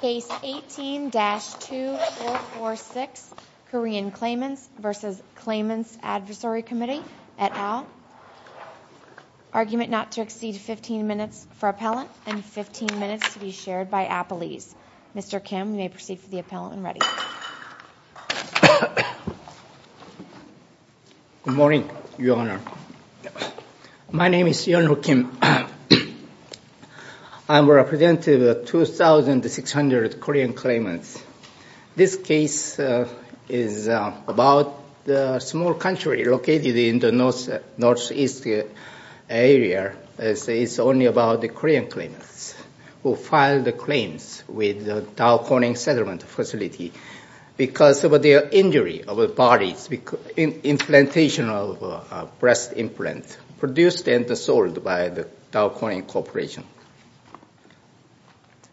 Case 18-2446, Korean Claimants v. Claimants' Advisory Committee, et al., argument not to exceed 15 minutes for appellant and 15 minutes to be shared by appellees. Mr. Kim, you may proceed for the appellant when ready. Good morning, Your Honor. My name is Yeonho Kim. I am representative of 2,600 Korean claimants. This case is about a small country located in the northeast area. It's only about the Korean claimants who filed claims with the Dow Corning settlement facility because of their injury of the bodies, implantation of breast implants produced and sold by the Dow Corning Corporation.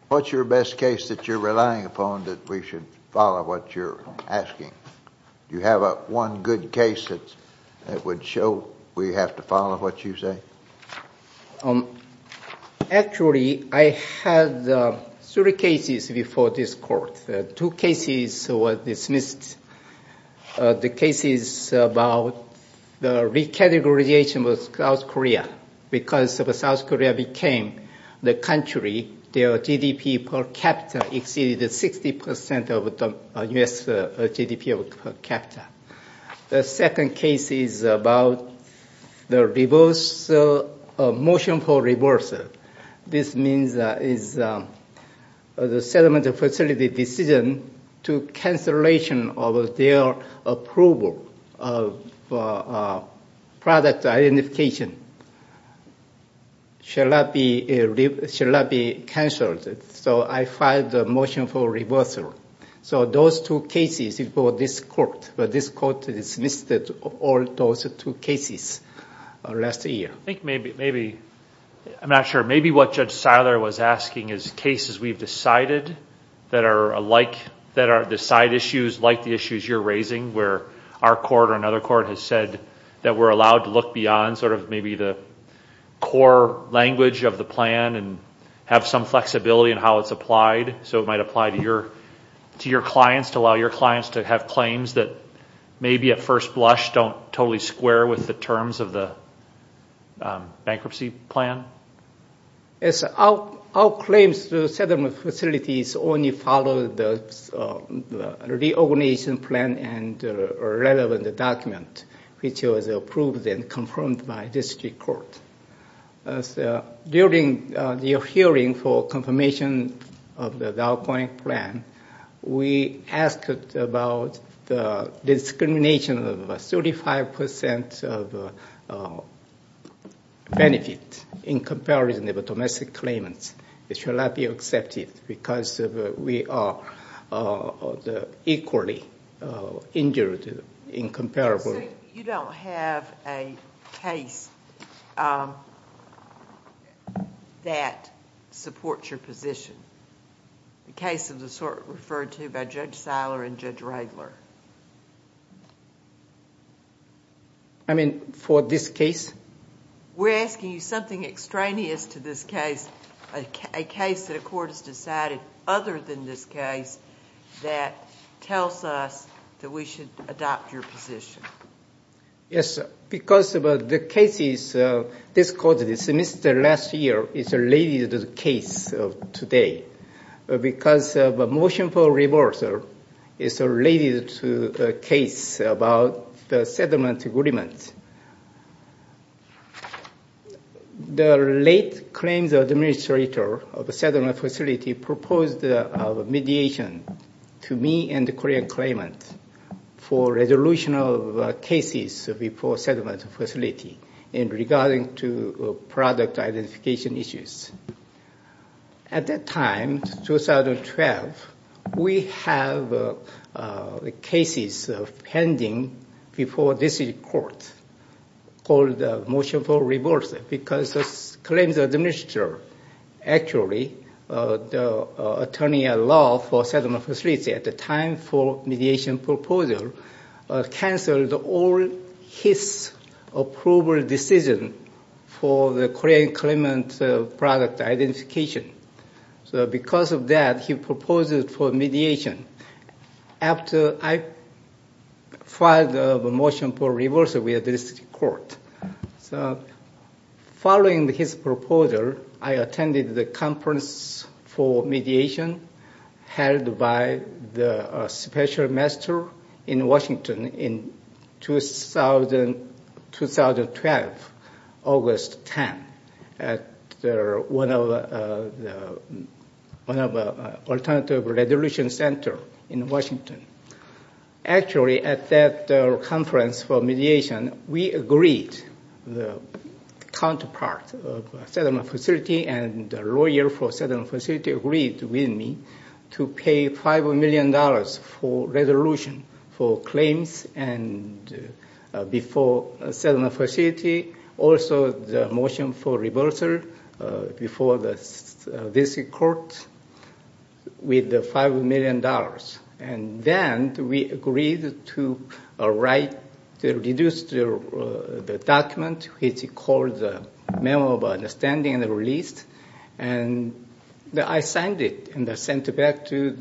What's your best case that you're relying upon that we should follow what you're asking? Do you have one good case that would show we have to follow what you say? Actually, I had three cases before this court. Two cases were dismissed. The case is about the recategorization of South Korea. Because South Korea became the country, their GDP per capita exceeded 60% of the U.S. GDP per capita. The second case is about the motion for reversal. This means the settlement facility decision to cancellation of their approval of product identification should not be canceled. Those two cases before this court were dismissed last year. I'm not sure. Maybe what Judge Seiler was asking is cases we've decided that are the side issues like the issues you're raising where our court or another court has said that we're allowed to look beyond the core language of the plan and have some flexibility in how it's applied. So it might apply to your clients, to allow your clients to have claims that maybe at first blush don't totally square with the terms of the bankruptcy plan? Our claims to settlement facilities only follow the reorganization plan and relevant document, which was approved and confirmed by district court. During the hearing for confirmation of the Dow Coin plan, we asked about the discrimination of 35% of benefit in comparison of domestic claimants. It should not be accepted because we are equally injured in comparison. So you don't have a case that supports your position, the case referred to by Judge Seiler and Judge Radler? I mean, for this case? We're asking you something extraneous to this case, a case that a court has decided other than this case that tells us that we should adopt your position. Yes, because of the cases this court dismissed last year is related to the case of today. Because of a motion for reversal, it's related to a case about the settlement agreement. The late claims administrator of a settlement facility proposed a mediation to me and the Korean claimant for resolution of cases before settlement facility in regarding to product identification issues. At that time, 2012, we have cases pending before this court called the motion for reversal because the claims administrator actually, the attorney-at-law for settlement facility at the time for mediation proposal canceled all his approval decision for the Korean claimant product identification. So because of that, he proposed for mediation. After I filed the motion for reversal, we had this court. So following his proposal, I attended the conference for mediation held by the special master in Washington in 2012, August 10, at one of the alternative resolution center in Washington. Actually, at that conference for mediation, we agreed, the counterpart of settlement facility and lawyer for settlement facility agreed with me to pay $5 million for resolution for claims before settlement facility. Also, the motion for reversal before this court with the $5 million. And then we agreed to write, to reduce the document, which is called the Memo of Understanding and Release. And I signed it and sent it back to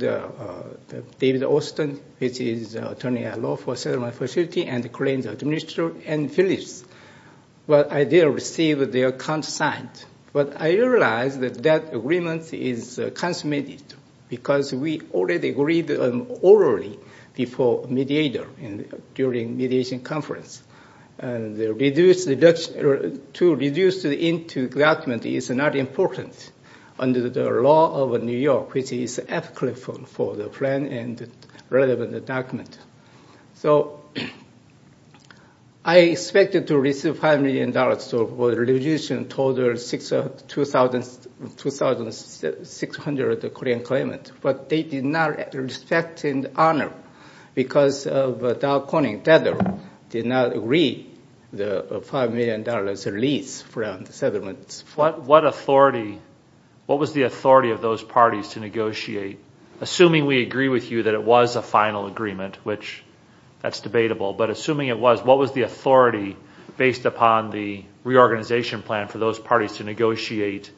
David Austin, which is attorney-at-law for settlement facility and the claims administrator and Phyllis. But I didn't receive their count signed. But I realized that that agreement is consummated because we already agreed orally before mediator during mediation conference. And to reduce into document is not important under the law of New York, which is applicable for the plan and relevant document. So I expected to receive $5 million for the resolution total of 2,600 Korean claimants. But they did not respect and honor because of Dow Corning did not agree the $5 million release from the settlements. What was the authority of those parties to negotiate, assuming we agree with you that it was a final agreement, which that's debatable, but assuming it was, what was the authority based upon the reorganization plan for those parties to negotiate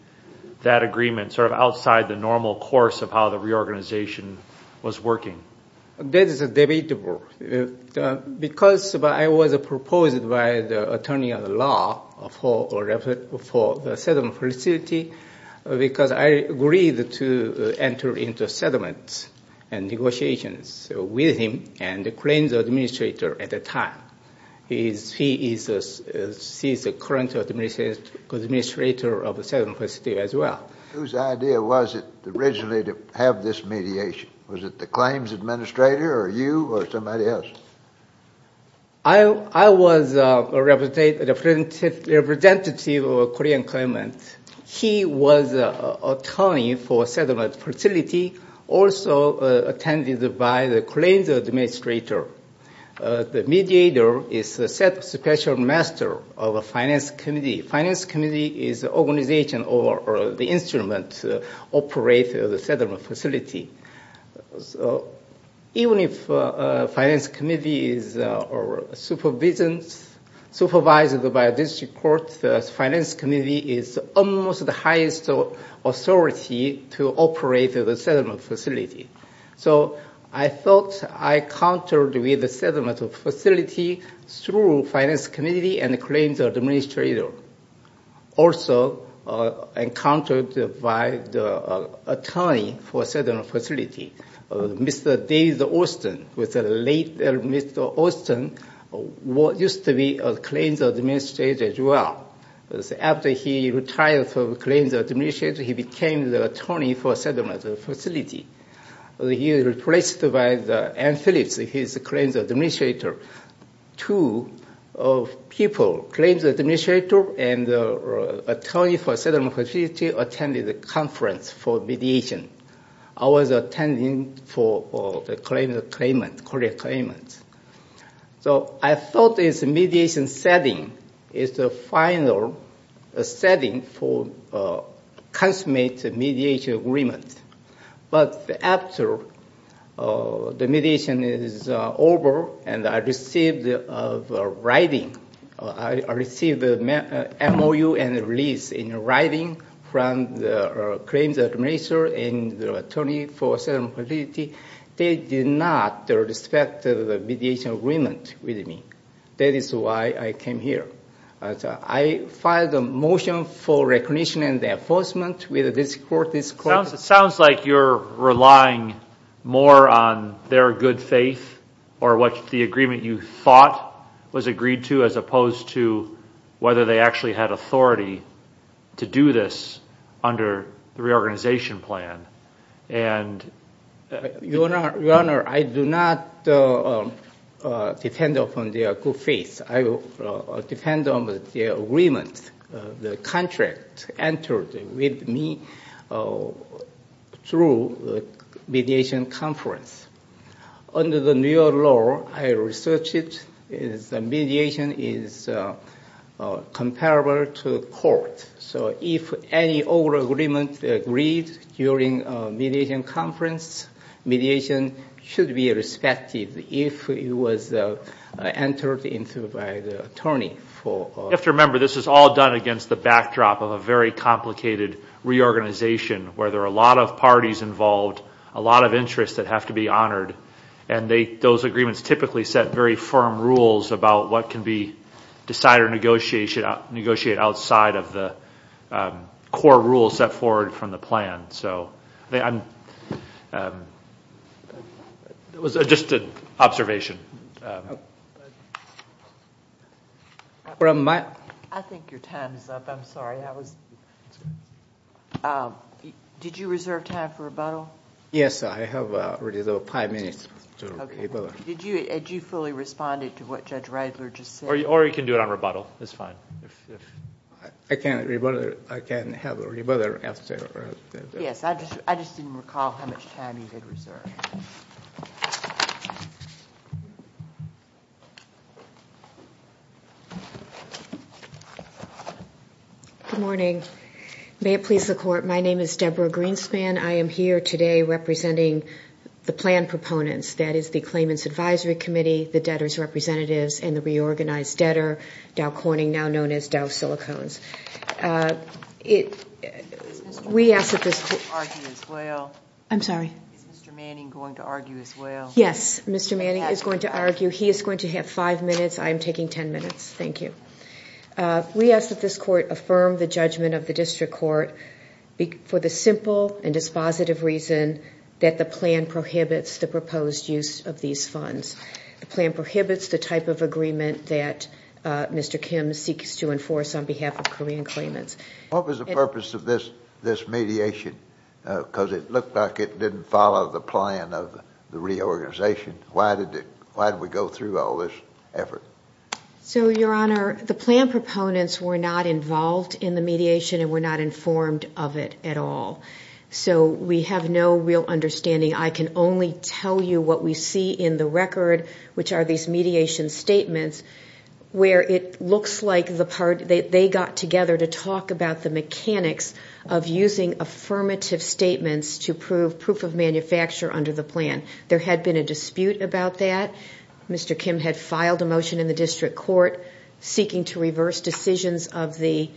that agreement sort of outside the normal course of how the reorganization was working? That is debatable. Because I was proposed by the attorney-at-law for the settlement facility because I agreed to enter into settlements and negotiations with him and the claims administrator at the time. He is the current administrator of the settlement facility as well. Whose idea was it originally to have this mediation? Was it the claims administrator or you or somebody else? I was a representative of a Korean claimant. He was an attorney for a settlement facility, also attended by the claims administrator. The mediator is a special master of a finance committee. A finance committee is an organization or the instrument operating the settlement facility. Even if a finance committee is supervised by a district court, this finance committee is almost the highest authority to operate the settlement facility. So I thought I countered with the settlement facility through finance committee and the claims administrator. Also, I countered by the attorney for a settlement facility, Mr. David Austin, Mr. Austin used to be a claims administrator as well. After he retired from the claims administrator, he became the attorney for a settlement facility. He was replaced by Anne Phillips, his claims administrator. Two people, claims administrator and attorney for a settlement facility, attended the conference for mediation. I was attending for the Korean claimant. So I thought this mediation setting is the final setting for consummate mediation agreement. But after the mediation is over and I received a writing, I received an MOU and a release in writing from the claims administrator and the attorney for a settlement facility, they did not respect the mediation agreement with me. That is why I came here. I filed a motion for recognition and enforcement with this court. It sounds like you're relying more on their good faith or what the agreement you thought was agreed to as opposed to whether they actually had authority to do this under the reorganization plan. Your Honor, I do not depend upon their good faith. I depend on the agreement, the contract entered with me through mediation conference. Under the new law, I researched it, mediation is comparable to court. So if any old agreement agreed during mediation conference, mediation should be respected if it was entered into by the attorney. You have to remember this is all done against the backdrop of a very complicated reorganization where there are a lot of parties involved, a lot of interests that have to be honored. Those agreements typically set very firm rules about what can be decided or negotiated outside of the core rules set forward from the plan. It was just an observation. I think your time is up. I'm sorry. Did you reserve time for rebuttal? Yes, I have five minutes. Did you fully respond to what Judge Radler just said? Or you can do it on rebuttal. I can't have a rebuttal. Yes, I just didn't recall how much time he had reserved. Good morning. May it please the Court, my name is Deborah Greenspan. I am here today representing the plan proponents, that is, the Claimants Advisory Committee, the debtors' representatives, and the reorganized debtor, Dow Corning, now known as Dow Silicones. Is Mr. Manning going to argue as well? I'm sorry? Is Mr. Manning going to argue as well? Yes, Mr. Manning is going to argue. He is going to have five minutes. I am taking ten minutes. Thank you. We ask that this Court affirm the judgment of the District Court for the simple and dispositive reason that the plan prohibits the proposed use of these funds. The plan prohibits the type of agreement that Mr. Kim seeks to enforce on behalf of Korean claimants. What was the purpose of this mediation? Because it looked like it didn't follow the plan of the reorganization. Why did we go through all this effort? So, Your Honor, the plan proponents were not involved in the mediation and were not informed of it at all. So we have no real understanding. I can only tell you what we see in the record, which are these mediation statements, where it looks like they got together to talk about the mechanics of using affirmative statements to prove proof of manufacture under the plan. There had been a dispute about that. Mr. Kim had filed a motion in the District Court seeking to reverse decisions of the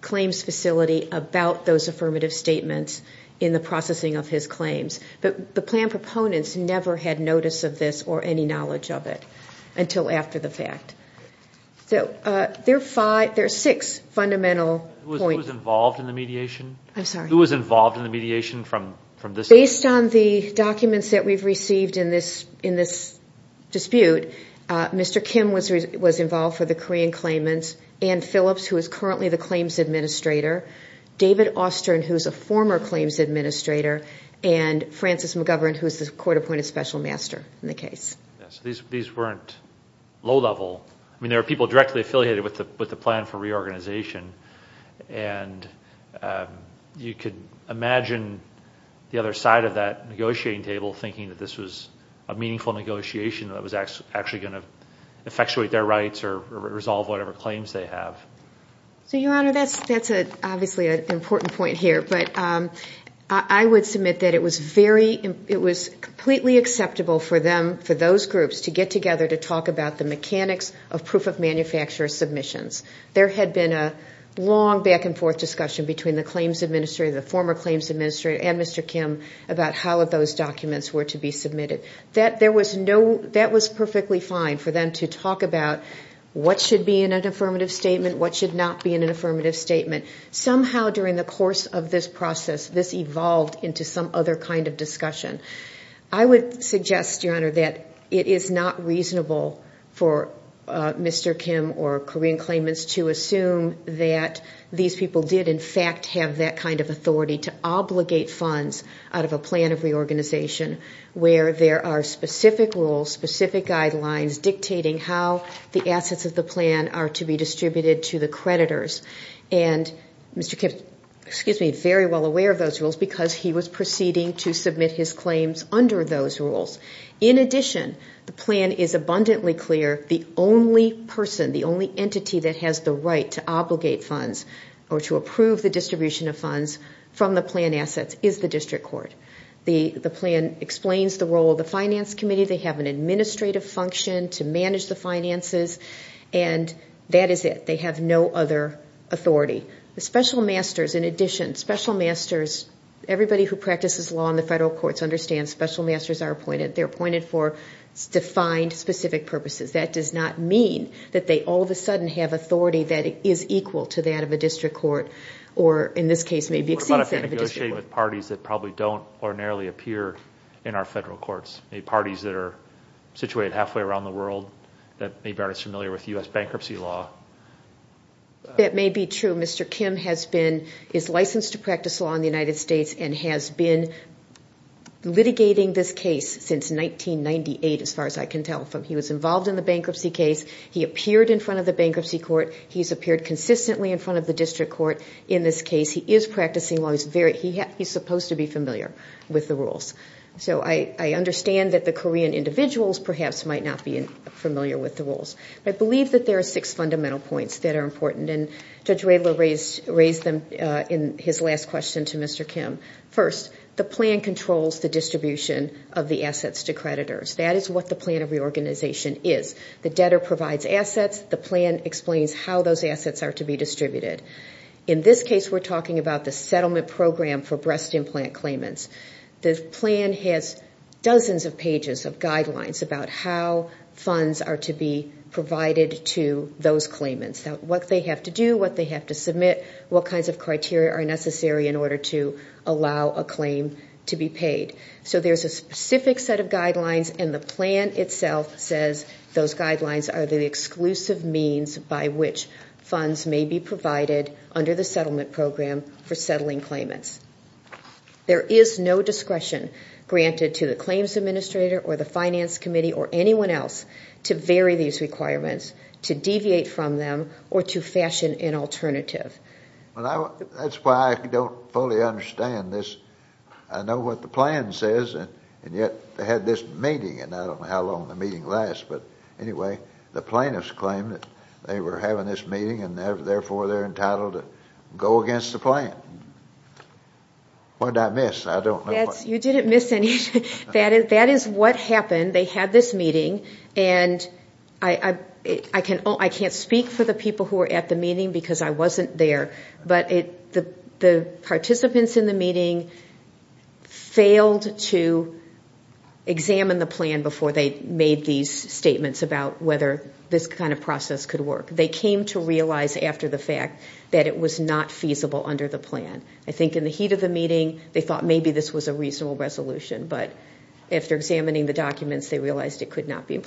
claims facility about those affirmative statements in the processing of his claims. But the plan proponents never had notice of this or any knowledge of it until after the fact. So there are six fundamental points. Who was involved in the mediation? I'm sorry? Who was involved in the mediation from this point? Based on the documents that we've received in this dispute, Mr. Kim was involved for the Korean claimants, Ann Phillips, who is currently the claims administrator, David Austern, who is a former claims administrator, and Francis McGovern, who is the court-appointed special master in the case. Yes. These weren't low-level. I mean, there were people directly affiliated with the plan for reorganization. And you could imagine the other side of that negotiating table thinking that this was a meaningful negotiation that was actually going to effectuate their rights or resolve whatever claims they have. So, Your Honor, that's obviously an important point here. But I would submit that it was completely acceptable for those groups to get together to talk about the mechanics of proof-of-manufacturer submissions. There had been a long back-and-forth discussion between the claims administrator, the former claims administrator, and Mr. Kim about how those documents were to be submitted. That was perfectly fine for them to talk about what should be in an affirmative statement, what should not be in an affirmative statement. Somehow, during the course of this process, this evolved into some other kind of discussion. I would suggest, Your Honor, that it is not reasonable for Mr. Kim or Korean claimants to assume that these people did, in fact, have that kind of authority to obligate funds out of a plan of reorganization where there are specific rules, specific guidelines, dictating how the assets of the plan are to be distributed to the creditors. And Mr. Kim is very well aware of those rules because he was proceeding to submit his claims under those rules. In addition, the plan is abundantly clear. The only person, the only entity that has the right to obligate funds or to approve the distribution of funds from the plan assets is the district court. The plan explains the role of the finance committee. They have an administrative function to manage the finances, and that is it. They have no other authority. The special masters, in addition, special masters, everybody who practices law in the federal courts understands special masters are appointed. They're appointed for defined, specific purposes. That does not mean that they all of a sudden have authority that is equal to that of a district court or, in this case, maybe exceeds that of a district court. What about if they negotiate with parties that probably don't ordinarily appear in our federal courts, maybe parties that are situated halfway around the world, that maybe aren't as familiar with U.S. bankruptcy law? That may be true. Mr. Kim has been, is licensed to practice law in the United States and has been litigating this case since 1998, as far as I can tell. He was involved in the bankruptcy case. He appeared in front of the bankruptcy court. He's appeared consistently in front of the district court in this case. He is practicing law. He's supposed to be familiar with the rules. So I understand that the Korean individuals, perhaps, might not be familiar with the rules. I believe that there are six fundamental points that are important, and Judge Radler raised them in his last question to Mr. Kim. First, the plan controls the distribution of the assets to creditors. That is what the plan of reorganization is. The debtor provides assets. The plan explains how those assets are to be distributed. In this case, we're talking about the settlement program for breast implant claimants. The plan has dozens of pages of guidelines about how funds are to be provided to those claimants, what they have to do, what they have to submit, what kinds of criteria are necessary in order to allow a claim to be paid. So there's a specific set of guidelines, and the plan itself says those guidelines are the exclusive means by which funds may be provided under the settlement program for settling claimants. There is no discretion granted to the claims administrator or the finance committee or anyone else to vary these requirements, to deviate from them, or to fashion an alternative. That's why I don't fully understand this. I know what the plan says, and yet they had this meeting, and I don't know how long the meeting lasts. But anyway, the plaintiffs claim that they were having this meeting, and therefore they're entitled to go against the plan. What did I miss? I don't know. You didn't miss anything. That is what happened. They had this meeting, and I can't speak for the people who were at the meeting because I wasn't there, but the participants in the meeting failed to examine the plan before they made these statements about whether this kind of process could work. They came to realize after the fact that it was not feasible under the plan. I think in the heat of the meeting, they thought maybe this was a reasonable resolution, but after examining the documents, they realized it could not be.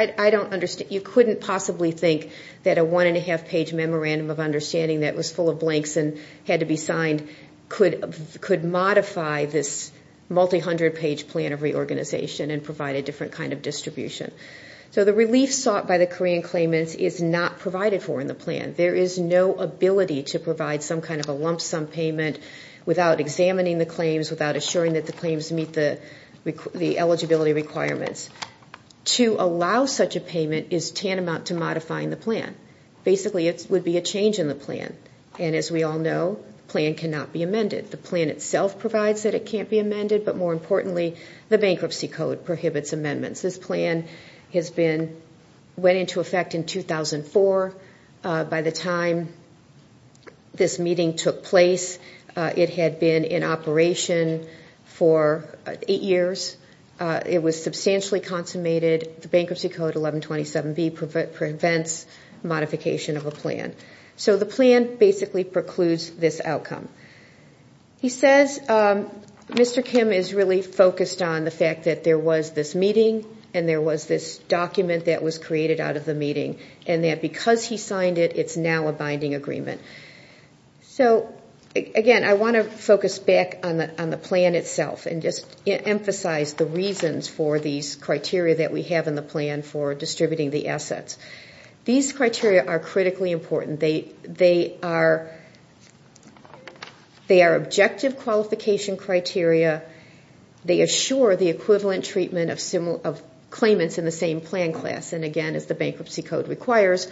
I don't understand. You couldn't possibly think that a one-and-a-half page memorandum of understanding that was full of blanks and had to be signed could modify this multi-hundred page plan of reorganization and provide a different kind of distribution. So the relief sought by the Korean claimants is not provided for in the plan. There is no ability to provide some kind of a lump sum payment without examining the claims, without assuring that the claims meet the eligibility requirements. To allow such a payment is tantamount to modifying the plan. Basically, it would be a change in the plan, and as we all know, the plan cannot be amended. The plan itself provides that it can't be amended, but more importantly, the bankruptcy code prohibits amendments. This plan went into effect in 2004. By the time this meeting took place, it had been in operation for eight years. It was substantially consummated. The bankruptcy code 1127B prevents modification of a plan. So the plan basically precludes this outcome. He says Mr. Kim is really focused on the fact that there was this meeting and there was this document that was created out of the meeting and that because he signed it, it's now a binding agreement. Again, I want to focus back on the plan itself and just emphasize the reasons for these criteria that we have in the plan for distributing the assets. These criteria are critically important. They are objective qualification criteria. They assure the equivalent treatment of claimants in the same plan class. And again, as the bankruptcy code requires,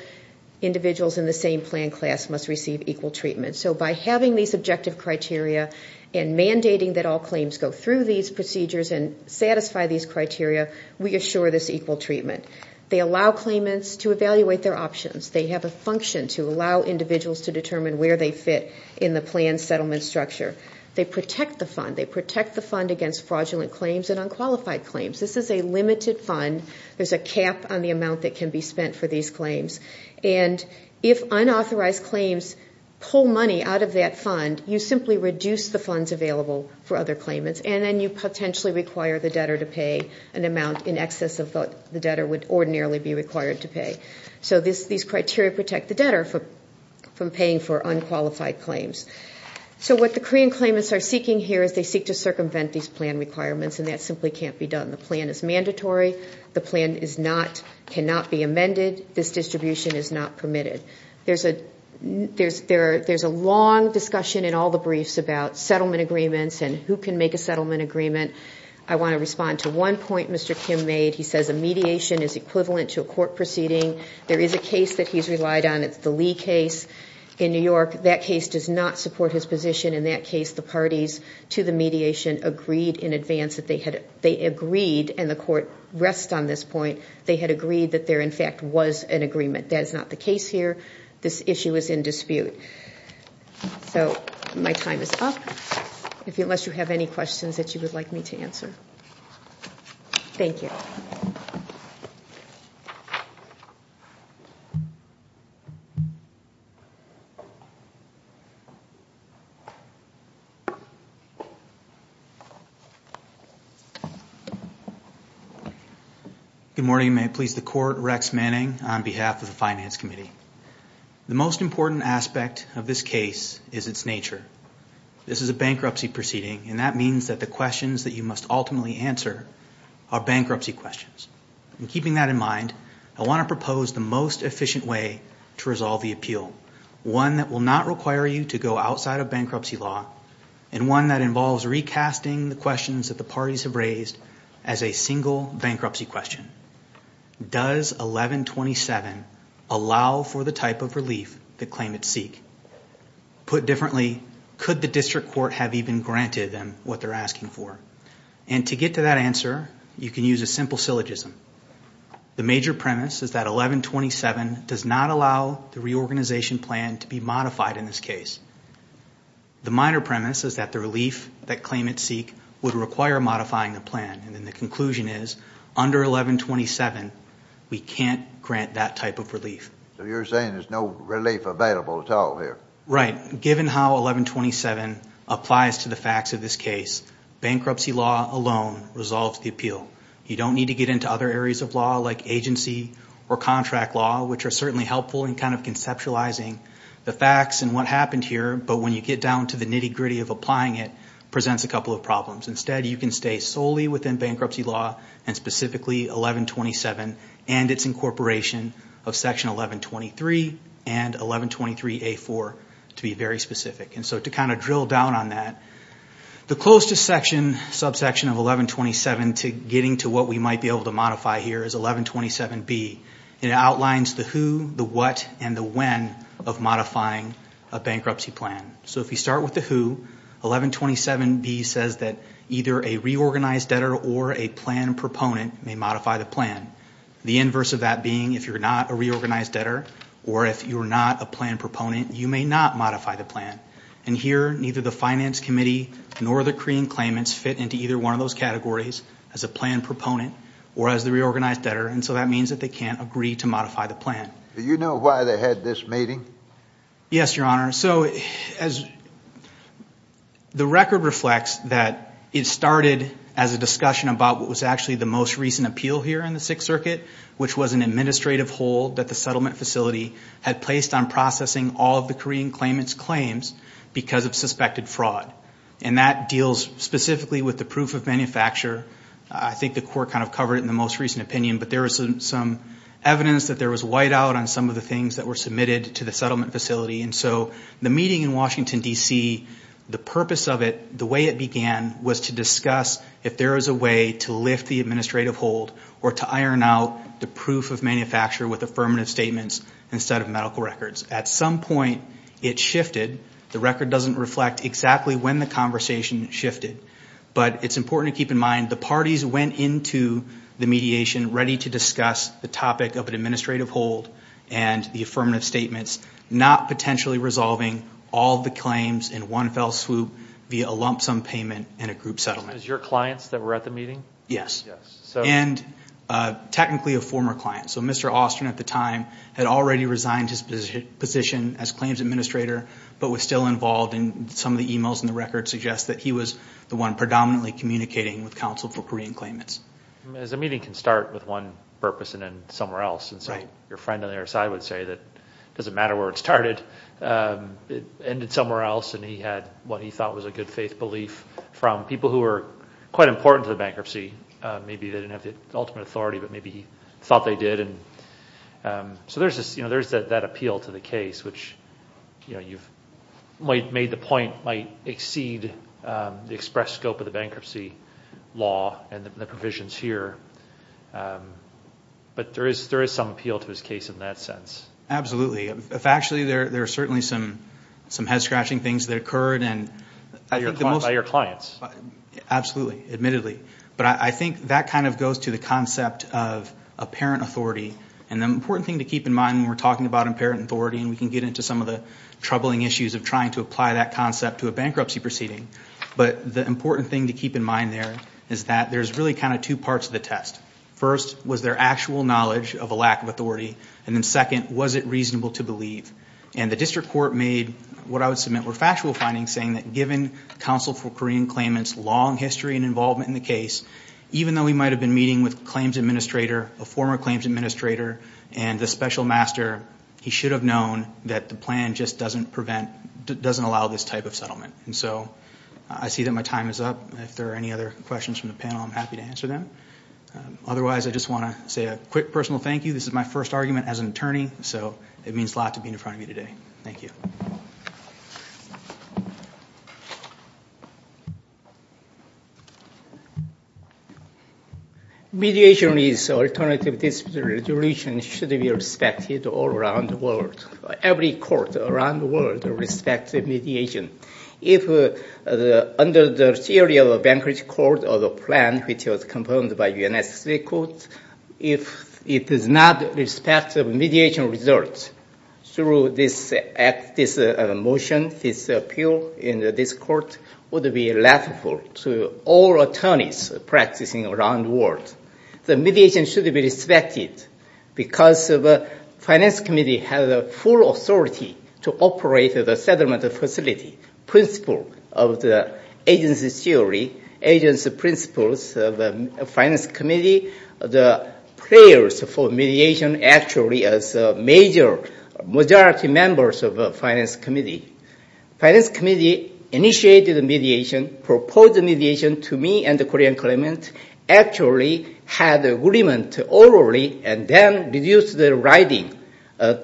individuals in the same plan class must receive equal treatment. So by having these objective criteria and mandating that all claims go through these procedures and satisfy these criteria, we assure this equal treatment. They allow claimants to evaluate their options. They have a function to allow individuals to determine where they fit in the plan settlement structure. They protect the fund. They protect the fund against fraudulent claims and unqualified claims. This is a limited fund. There's a cap on the amount that can be spent for these claims. And if unauthorized claims pull money out of that fund, you simply reduce the funds available for other claimants and then you potentially require the debtor to pay an amount in excess of what the debtor would ordinarily be required to pay. So these criteria protect the debtor from paying for unqualified claims. So what the Korean claimants are seeking here is they seek to circumvent these plan requirements, and that simply can't be done. The plan is mandatory. The plan cannot be amended. This distribution is not permitted. There's a long discussion in all the briefs about settlement agreements and who can make a settlement agreement. I want to respond to one point Mr. Kim made. He says a mediation is equivalent to a court proceeding. There is a case that he's relied on. It's the Lee case in New York. That case does not support his position. In that case, the parties to the mediation agreed in advance that they had agreed, and the court rests on this point. They had agreed that there, in fact, was an agreement. That is not the case here. This issue is in dispute. So my time is up, unless you have any questions that you would like me to answer. Thank you. Good morning. May it please the Court. Rex Manning on behalf of the Finance Committee. The most important aspect of this case is its nature. This is a bankruptcy proceeding, and that means that the questions that you must ultimately answer are bankruptcy questions. In keeping that in mind, I want to propose the most efficient way to resolve the appeal, one that will not require you to go outside of bankruptcy law, and one that involves recasting the questions that the parties have raised as a single bankruptcy question. Does 1127 allow for the type of relief that claimants seek? Put differently, could the district court have even granted them what they're asking for? And to get to that answer, you can use a simple syllogism. The major premise is that 1127 does not allow the reorganization plan to be modified in this case. The minor premise is that the relief that claimants seek would require modifying the plan, and then the conclusion is, under 1127, we can't grant that type of relief. So you're saying there's no relief available at all here? Right. Given how 1127 applies to the facts of this case, bankruptcy law alone resolves the appeal. You don't need to get into other areas of law like agency or contract law, which are certainly helpful in kind of conceptualizing the facts and what happened here, but when you get down to the nitty-gritty of applying it, it presents a couple of problems. Instead, you can stay solely within bankruptcy law and specifically 1127 and its incorporation of Section 1123 and 1123A4 to be very specific. And so to kind of drill down on that, the closest subsection of 1127 to getting to what we might be able to modify here is 1127B. It outlines the who, the what, and the when of modifying a bankruptcy plan. So if we start with the who, 1127B says that either a reorganized debtor or a plan proponent may modify the plan, the inverse of that being if you're not a reorganized debtor or if you're not a plan proponent, you may not modify the plan. And here, neither the Finance Committee nor the Korean claimants fit into either one of those categories as a plan proponent or as the reorganized debtor, and so that means that they can't agree to modify the plan. Do you know why they had this meeting? Yes, Your Honor. So the record reflects that it started as a discussion about what was actually the most recent appeal here in the Sixth Circuit, which was an administrative hold that the settlement facility had placed on processing all of the Korean claimants' claims because of suspected fraud, and that deals specifically with the proof of manufacture. I think the Court kind of covered it in the most recent opinion, but there was some evidence that there was whiteout on some of the things that were submitted to the settlement facility, and so the meeting in Washington, D.C., the purpose of it, the way it began, was to discuss if there was a way to lift the administrative hold or to iron out the proof of manufacture with affirmative statements instead of medical records. At some point, it shifted. The record doesn't reflect exactly when the conversation shifted, but it's important to keep in mind the parties went into the mediation ready to discuss the topic of an administrative hold and the affirmative statements, not potentially resolving all the claims in one fell swoop via a lump sum payment and a group settlement. Was it your clients that were at the meeting? Yes, and technically a former client. So Mr. Austin at the time had already resigned his position as claims administrator but was still involved, and some of the emails in the record suggest that he was the one predominantly communicating with counsel for Korean claimants. As a meeting can start with one purpose and end somewhere else, and so your friend on the other side would say that it doesn't matter where it started. It ended somewhere else, and he had what he thought was a good faith belief from people who were quite important to the bankruptcy. Maybe they didn't have the ultimate authority, but maybe he thought they did. So there's that appeal to the case, which you've made the point might exceed the express scope of the bankruptcy law and the provisions here, but there is some appeal to his case in that sense. Absolutely. Actually, there are certainly some head-scratching things that occurred. By your clients? Absolutely, admittedly. But I think that kind of goes to the concept of apparent authority, and the important thing to keep in mind when we're talking about apparent authority, and we can get into some of the troubling issues of trying to apply that concept to a bankruptcy proceeding, but the important thing to keep in mind there is that there's really kind of two parts of the test. First, was there actual knowledge of a lack of authority? And then second, was it reasonable to believe? And the district court made what I would submit were factual findings saying that counsel for Korean claimants' long history and involvement in the case, even though he might have been meeting with a claims administrator, a former claims administrator, and the special master, he should have known that the plan just doesn't allow this type of settlement. And so I see that my time is up. If there are any other questions from the panel, I'm happy to answer them. Otherwise, I just want to say a quick personal thank you. This is my first argument as an attorney, so it means a lot to be in front of you today. Thank you. Mediation is alternative dispute resolution. It should be respected all around the world. Every court around the world respects mediation. If under the theory of a bankruptcy court or the plan which was confirmed by UNSC court, if it does not respect mediation results through this motion, this appeal in this court, would be laughable to all attorneys practicing around the world. The mediation should be respected because the finance committee has full authority to operate the settlement facility. Principle of the agency theory, agency principles of the finance committee, the prayers for mediation actually as a major majority members of the finance committee. Finance committee initiated the mediation, proposed the mediation to me and the Korean claimant, actually had agreement orally and then reduced the writing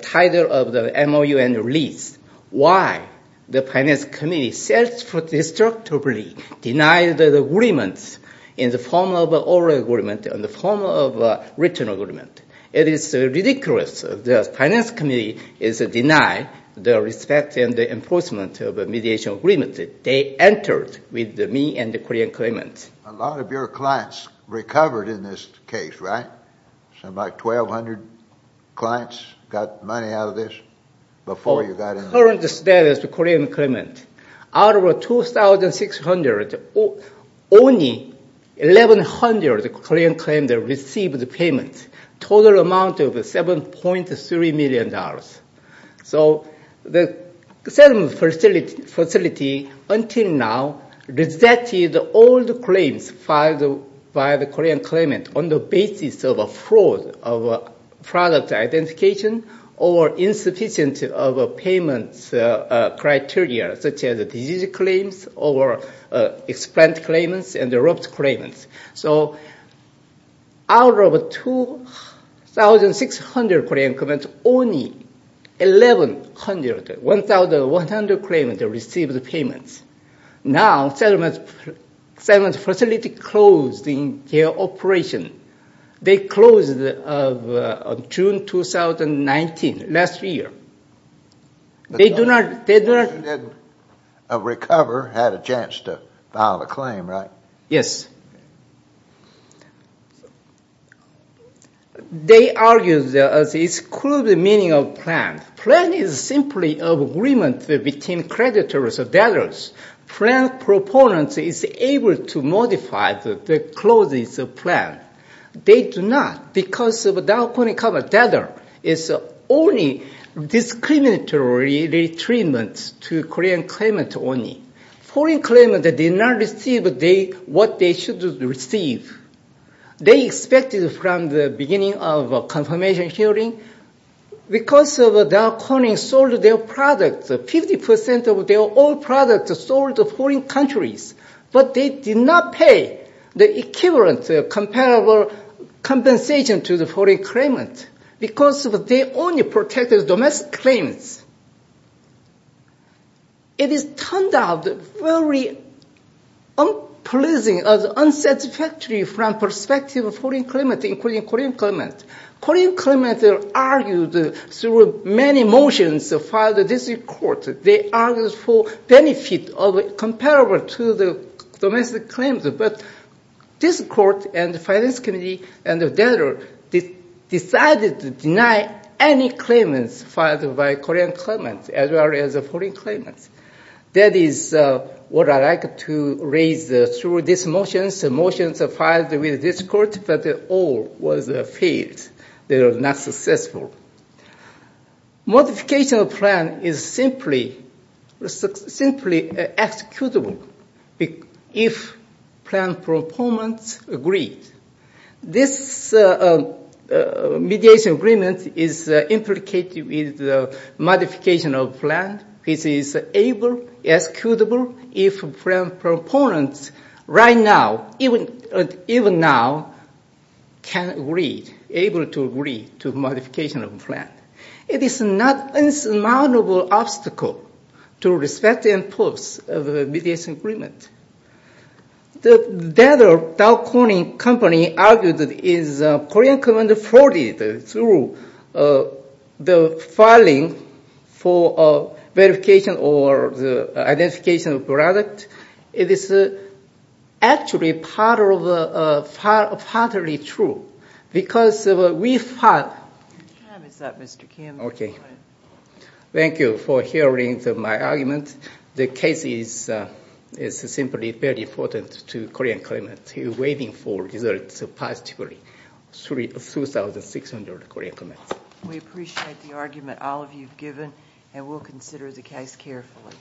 title of the MOU and release. Why? The finance committee self-destructively denied the agreements in the form of oral agreement, in the form of written agreement. It is ridiculous. The finance committee is denying the respect and the enforcement of mediation agreement. They entered with me and the Korean claimant. A lot of your clients recovered in this case, right? About 1,200 clients got money out of this before you got in. Current status of the Korean claimant, out of 2,600, only 1,100 Korean claimants received the payment. Total amount of $7.3 million. So the settlement facility, until now, rejected all the claims filed by the Korean claimant on the basis of a fraud of product identification or insufficient of payment criteria, such as disease claims or explained claimants and erupted claimants. So out of 2,600 Korean claimants, only 1,100 claimants received the payments. Now, settlement facility closed in their operation. They closed June 2019, last year. They do not... They didn't recover, had a chance to file a claim, right? Yes. They argue the excluded meaning of plan. Plan is simply an agreement between creditors or debtors. Plan proponent is able to modify the clauses of plan. They do not, because without any kind of debtor. It's only discriminatory retreatment to Korean claimant only. Foreign claimant did not receive what they should receive. They expected from the beginning of confirmation hearing, because Dow Corning sold their products, 50% of their all products sold to foreign countries, but they did not pay the equivalent comparable compensation to the foreign claimant because they only protected domestic claims. It is turned out very unpleasing, unsatisfactory from perspective of foreign claimant including Korean claimant. Korean claimant argued through many motions filed in this court. They argued for benefit comparable to the domestic claims, but this court and the Finance Committee and the debtor decided to deny any claimants filed by Korean claimant. As well as foreign claimants. That is what I like to raise through these motions. The motions are filed with this court, but all was failed. They are not successful. Modification of plan is simply executable if plan proponents agree. This mediation agreement is implicated with modification of plan, which is able, executable if plan proponents right now, even now, can agree, able to agree to modification of plan. It is not insurmountable obstacle to respect and enforce mediation agreement. The debtor Dow Corning Company argued that is Korean claimant frauded through the filing for verification or identification of product. It is actually part of the, partly true because we filed. Thank you for hearing my argument. The case is simply very important to Korean claimant. He is waiting for results positively. 3,600 Korean claimants. We appreciate the argument all of you have given and will consider the case carefully.